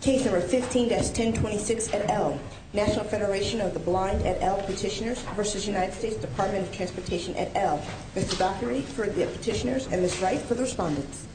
Case No. 15-1026 et al., National Federation of the Blind et al. Petitioners v. United States Department of Transportation et al. Mr. Dockery for the Petitioners and Ms. Wright for the Respondents.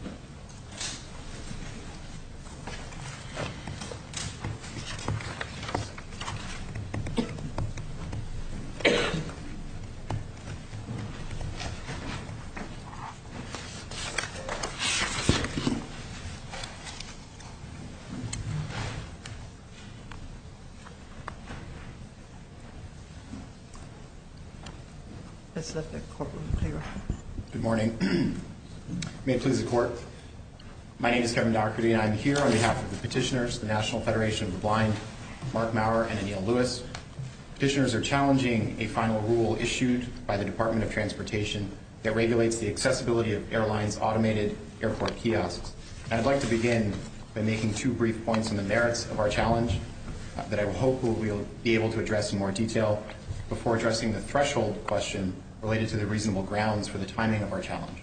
Good morning. May it please the Court, my name is Kevin Dockery and I am here on behalf of the Petitioners, the National Federation of the Blind, Mark Maurer and Aniel Lewis. Petitioners are challenging a final rule issued by the Department of Transportation that regulates the accessibility of airlines' automated airport kiosks. I would like to begin by making two brief points on the merits of our challenge that I hope we will be able to address in more detail before addressing the threshold question related to the reasonable grounds for the timing of our challenge.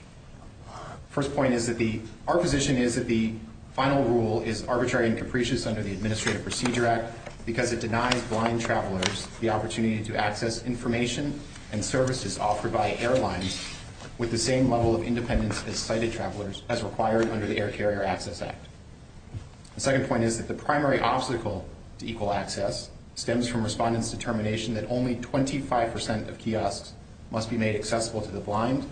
The first point is that our position is that the final rule is arbitrary and capricious under the Administrative Procedure Act because it denies blind travelers the opportunity to access information and services offered by airlines with the same level of independence as sighted travelers as required under the Air Carrier Access Act. The second point is that the primary obstacle to equal access stems from Respondents' determination that only 25% of kiosks must be made accessible to the blind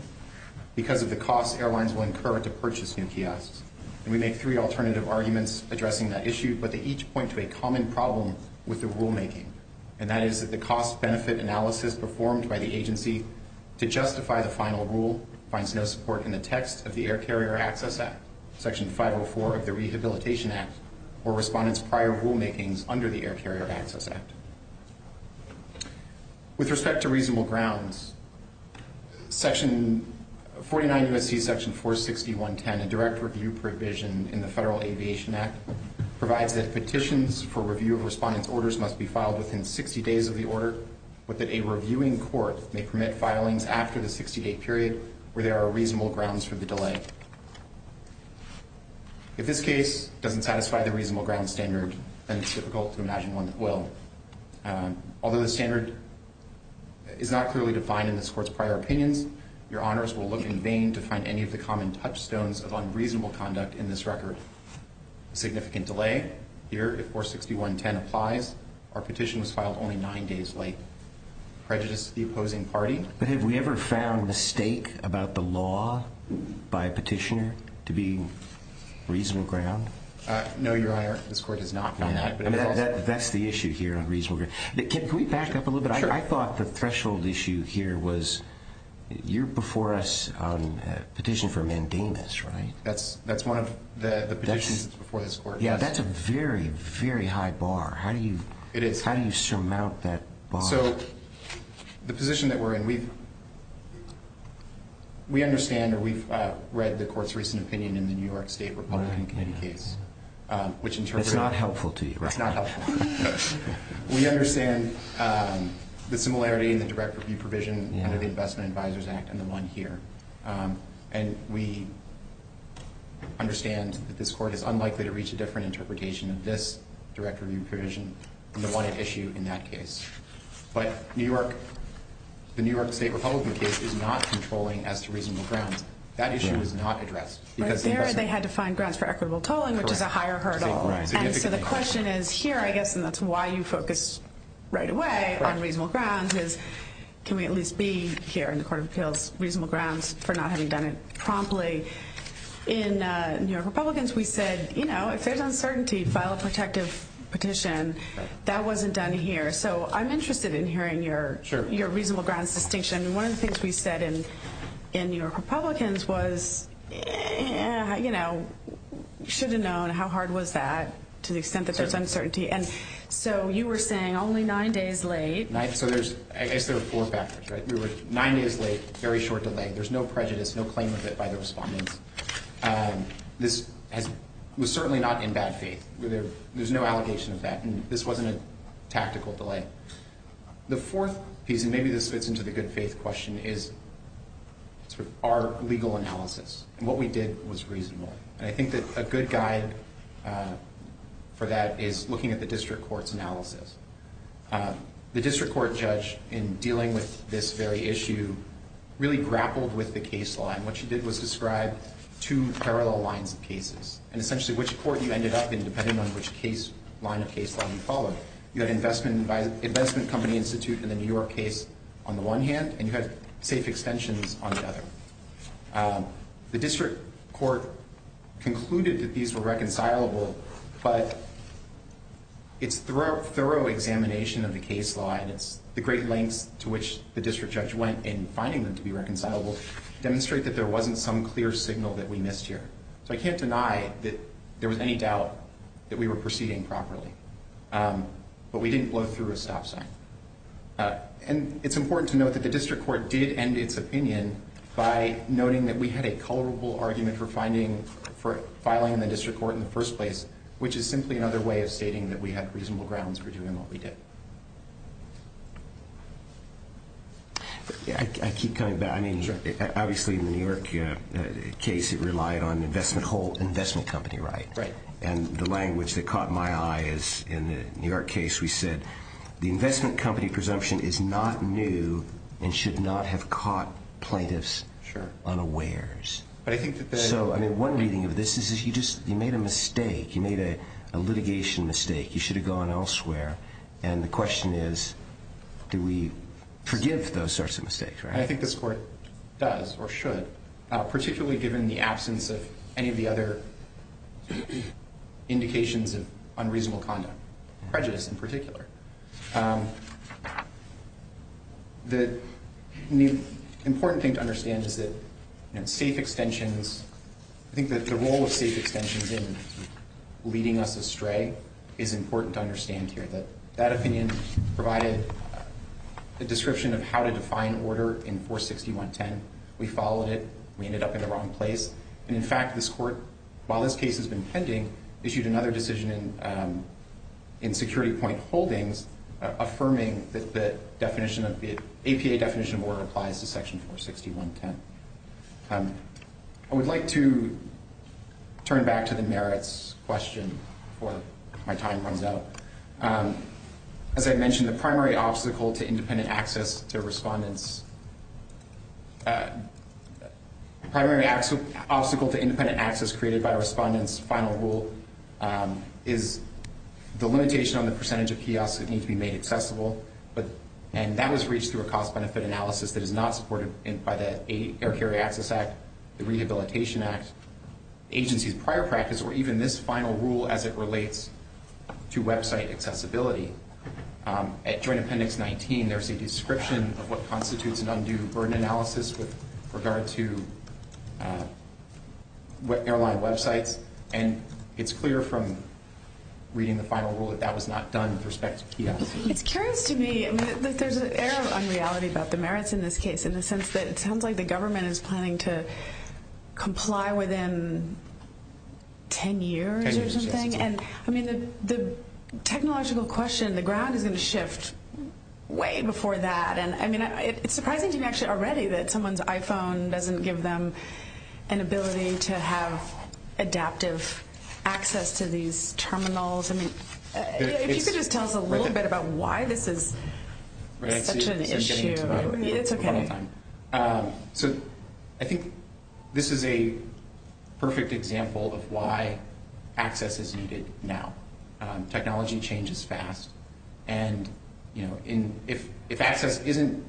because of the costs airlines will incur to purchase new kiosks. We make three alternative arguments addressing that issue, but they each point to a common problem with the rulemaking, and that is that the cost-benefit analysis performed by the agency to justify the final rule finds no support in the text of the Air Carrier Access Act, Section 504 of the Rehabilitation Act, or Respondents' prior rulemakings under the Air Carrier Access Act. With respect to reasonable grounds, 49 U.S.C. Section 461.10, a direct review provision in the Federal Aviation Act, provides that petitions for review of Respondents' orders must be filed within 60 days of the order, but that a reviewing court may permit filings after the 60-day period where there are reasonable grounds for the delay. If this case doesn't satisfy the reasonable grounds standard, then it's difficult to imagine one that will. Although the standard is not clearly defined in this Court's prior opinions, your Honors will look in vain to find any of the common touchstones of unreasonable conduct in this record. A significant delay here, if 461.10 applies, our petition was filed only nine days late. Prejudice to the opposing party. But have we ever found mistake about the law by a petitioner to be reasonable ground? No, your Honor, this Court has not found that. That's the issue here on reasonable grounds. Can we back up a little bit? I thought the threshold issue here was you're before us on a petition for mandamus, right? That's one of the petitions before this Court. Yeah, that's a very, very high bar. How do you surmount that bar? So the position that we're in, we understand or we've read the Court's recent opinion in the New York State Republican Committee case. It's not helpful to you, right? It's not helpful. We understand the similarity in the direct review provision under the Investment Advisors Act and the one here. And we understand that this Court is unlikely to reach a different interpretation of this direct review provision than the one at issue in that case. But the New York State Republican case is not controlling as to reasonable grounds. That issue was not addressed. Right there, they had to find grounds for equitable tolling, which is a higher hurdle. And so the question is here, I guess, and that's why you focused right away on reasonable grounds, is can we at least be here in the Court of Appeals, reasonable grounds for not having done it promptly. In New York Republicans, we said, you know, if there's uncertainty, file a protective petition. That wasn't done here. So I'm interested in hearing your reasonable grounds distinction. One of the things we said in New York Republicans was, you know, you should have known how hard was that to the extent that there's uncertainty. And so you were saying only nine days late. So I guess there are four factors, right? We were nine days late, very short delay. There's no prejudice, no claim of it by the respondents. This was certainly not in bad faith. There's no allegation of that. And this wasn't a tactical delay. The fourth piece, and maybe this fits into the good faith question, is our legal analysis. And what we did was reasonable. The district court judge, in dealing with this very issue, really grappled with the case line. What she did was describe two parallel lines of cases. And essentially which court you ended up in, depending on which line of case line you followed. You had an investment company institute in the New York case on the one hand, and you had safe extensions on the other. The district court concluded that these were reconcilable, but its thorough examination of the case line, the great lengths to which the district judge went in finding them to be reconcilable, demonstrate that there wasn't some clear signal that we missed here. So I can't deny that there was any doubt that we were proceeding properly. But we didn't blow through a stop sign. And it's important to note that the district court did end its opinion by noting that we had a colorable argument for filing in the district court in the first place, which is simply another way of stating that we had reasonable grounds for doing what we did. I keep coming back. I mean, obviously in the New York case it relied on investment whole investment company, right? Right. And the language that caught my eye is in the New York case we said, the investment company presumption is not new and should not have caught plaintiffs unawares. So, I mean, one reading of this is you just made a mistake. You made a litigation mistake. You should have gone elsewhere. And the question is, do we forgive those sorts of mistakes, right? I think this court does or should, particularly given the absence of any of the other indications of unreasonable conduct, prejudice in particular. The important thing to understand is that safe extensions, I think that the role of safe extensions in leading us astray is important to understand here, that that opinion provided a description of how to define order in 46110. We followed it. We ended up in the wrong place. And, in fact, this court, while this case has been pending, issued another decision in security point holdings affirming that the definition of the APA definition of order applies to section 46110. I would like to turn back to the merits question before my time runs out. As I mentioned, the primary obstacle to independent access to respondents, the primary obstacle to independent access created by respondents' final rule is the limitation on the percentage of kiosks that need to be made accessible. And that was reached through a cost-benefit analysis that is not supported by the Air Carrier Access Act, the Rehabilitation Act, the agency's prior practice, or even this final rule as it relates to website accessibility. At Joint Appendix 19, there's a description of what constitutes an undue burden analysis with regard to airline websites, and it's clear from reading the final rule that that was not done with respect to kiosks. It's curious to me that there's an air of unreality about the merits in this case in the sense that it sounds like the government is planning to comply within ten years or something. Ten years, yes. And the technological question, the ground is going to shift way before that. It's surprising to me actually already that someone's iPhone doesn't give them an ability to have adaptive access to these terminals. If you could just tell us a little bit about why this is such an issue. So I think this is a perfect example of why access is needed now. Technology changes fast, and if access isn't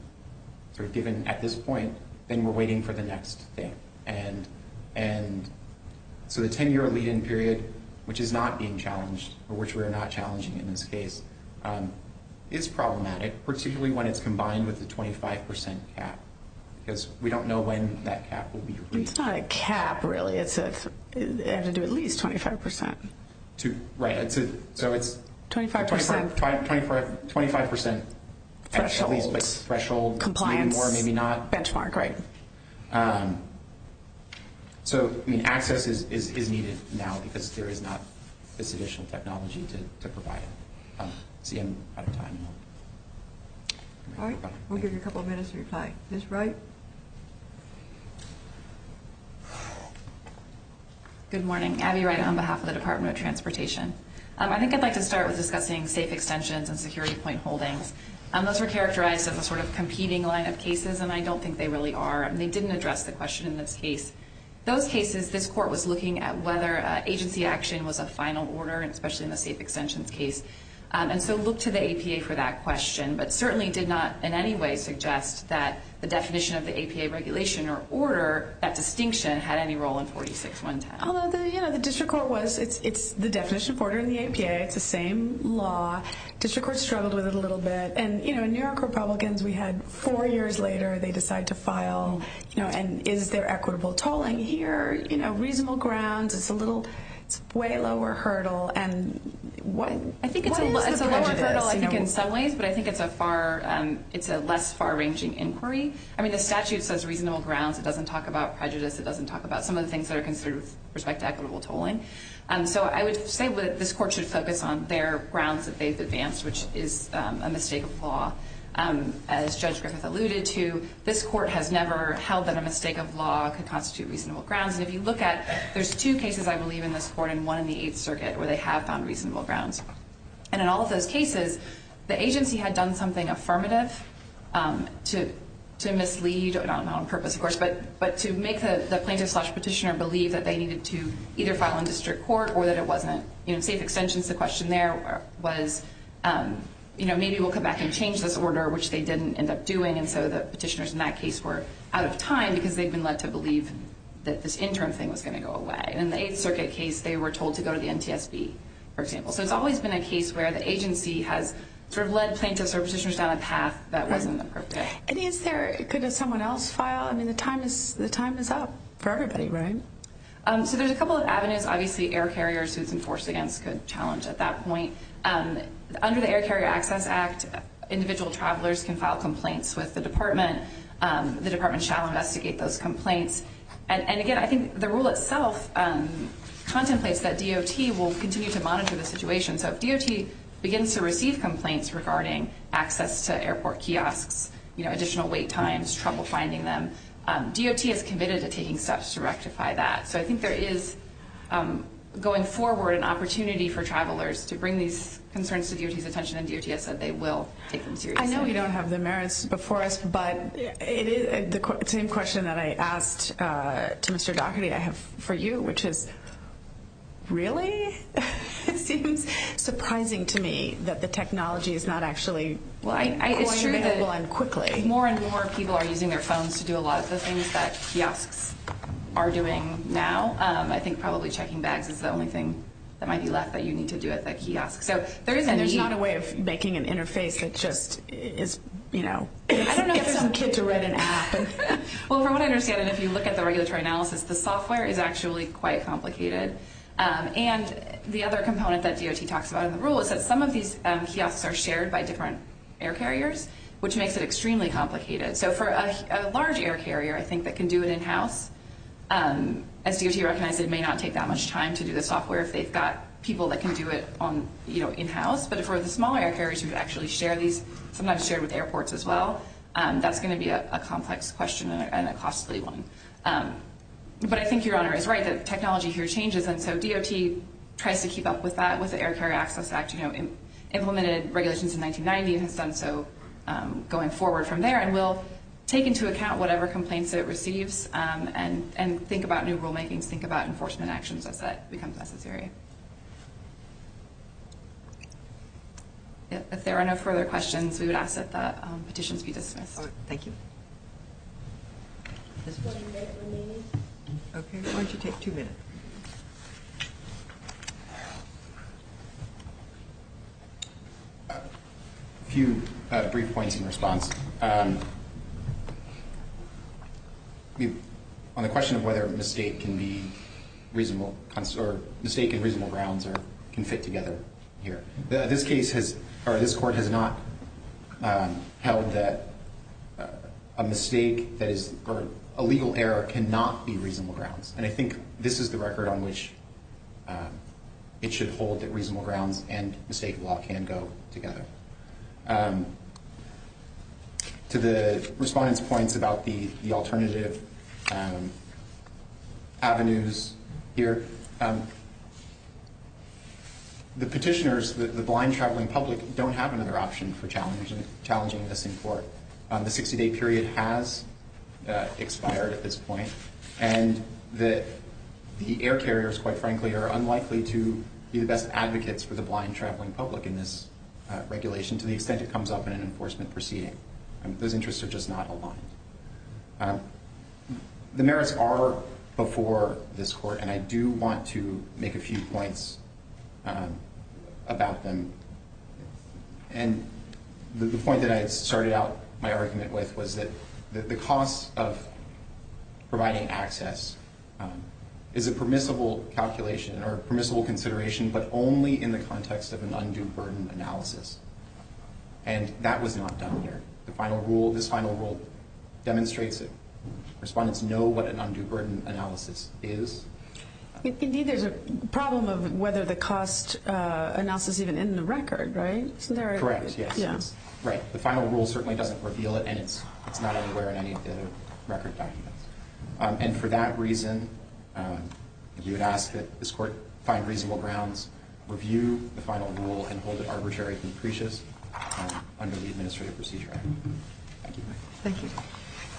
given at this point, then we're waiting for the next thing. So the ten-year lead-in period, which is not being challenged, or which we are not challenging in this case, is problematic, particularly when it's combined with the 25% cap, because we don't know when that cap will be reached. It's not a cap, really. It's at least 25%. Right. So it's 25% threshold, maybe more, maybe not. Benchmark, right. So access is needed now because there is not this additional technology to provide it. See, I'm out of time. All right. We'll give you a couple minutes to reply. Ms. Wright. Good morning. Abby Wright on behalf of the Department of Transportation. I think I'd like to start with discussing safe extensions and security point holdings. Those were characterized as a sort of competing line of cases, and I don't think they really are, and they didn't address the question in this case. Those cases, this court was looking at whether agency action was a final order, especially in the safe extensions case, and so looked to the APA for that question, but certainly did not in any way suggest that the definition of the APA regulation or order, that distinction, had any role in 46-110. Although, you know, the district court was, it's the definition for the APA. It's the same law. District court struggled with it a little bit, and, you know, New York Republicans, we had four years later they decide to file, you know, and is there equitable tolling here, you know, reasonable grounds. It's a little, it's way lower hurdle, and what is the prejudice? It's a lower hurdle, I think, in some ways, but I think it's a far, it's a less far-ranging inquiry. I mean, the statute says reasonable grounds. It doesn't talk about prejudice. It doesn't talk about some of the things that are considered with respect to equitable tolling. So I would say that this court should focus on their grounds that they've advanced, which is a mistake of law. As Judge Griffith alluded to, this court has never held that a mistake of law could constitute reasonable grounds. And if you look at, there's two cases, I believe, in this court, and one in the Eighth Circuit, where they have found reasonable grounds. And in all of those cases, the agency had done something affirmative to mislead, not on purpose, of course, but to make the plaintiff slash petitioner believe that they needed to either file in district court or that it wasn't. You know, safe extension to the question there was, you know, maybe we'll come back and change this order, which they didn't end up doing, and so the petitioners in that case were out of time because they'd been led to believe that this interim thing was going to go away. And in the Eighth Circuit case, they were told to go to the NTSB, for example. So it's always been a case where the agency has sort of led plaintiffs or petitioners down a path that wasn't appropriate. And is there, could someone else file? I mean, the time is up for everybody, right? So there's a couple of avenues. Obviously, air carriers, who it's enforced against, could challenge at that point. Under the Air Carrier Access Act, individual travelers can file complaints with the department. The department shall investigate those complaints. And again, I think the rule itself contemplates that DOT will continue to monitor the situation. So if DOT begins to receive complaints regarding access to airport kiosks, you know, additional wait times, trouble finding them, DOT is committed to taking steps to rectify that. So I think there is, going forward, an opportunity for travelers to bring these concerns to DOT's attention, and DOT has said they will take them seriously. I know we don't have the merits before us, but the same question that I asked to Mr. Daugherty I have for you, which is, really? It seems surprising to me that the technology is not actually going available and quickly. It's true that more and more people are using their phones to do a lot of the things that kiosks are doing now. I think probably checking bags is the only thing that might be left that you need to do at that kiosk. And there's not a way of making an interface that just is, you know, get some kid to write an app. Well, from what I understand, and if you look at the regulatory analysis, the software is actually quite complicated. And the other component that DOT talks about in the rule is that some of these kiosks are shared by different air carriers, which makes it extremely complicated. So for a large air carrier, I think, that can do it in-house, as DOT recognized, it may not take that much time to do the software if they've got people that can do it in-house. But for the smaller air carriers who actually share these, sometimes shared with airports as well, that's going to be a complex question and a costly one. But I think Your Honor is right that technology here changes. And so DOT tries to keep up with that with the Air Carrier Access Act. It implemented regulations in 1990 and has done so going forward from there and will take into account whatever complaints it receives and think about new rulemakings, think about enforcement actions as that becomes necessary. If there are no further questions, we would ask that the petitions be dismissed. Thank you. A few brief points in response. First, on the question of whether mistake can be reasonable or mistake and reasonable grounds can fit together here. This court has not held that a mistake or a legal error cannot be reasonable grounds. And I think this is the record on which it should hold that reasonable grounds and mistake law can go together. To the respondent's points about the alternative avenues here, the petitioners, the blind traveling public, don't have another option for challenging this in court. The 60-day period has expired at this point. And the air carriers, quite frankly, are unlikely to be the best advocates for the blind traveling public in this regulation to the extent it comes up in an enforcement proceeding. Those interests are just not aligned. The merits are before this court, and I do want to make a few points about them. And the point that I started out my argument with was that the cost of providing access is a permissible calculation or permissible consideration, but only in the context of an undue burden analysis. And that was not done here. This final rule demonstrates that respondents know what an undue burden analysis is. Indeed, there's a problem of whether the cost analysis is even in the record, right? Correct, yes. The final rule certainly doesn't reveal it, and it's not anywhere in any of the record documents. And for that reason, you would ask that this court find reasonable grounds, review the final rule, and hold it arbitrary and capricious under the Administrative Procedure Act. Thank you. Thank you.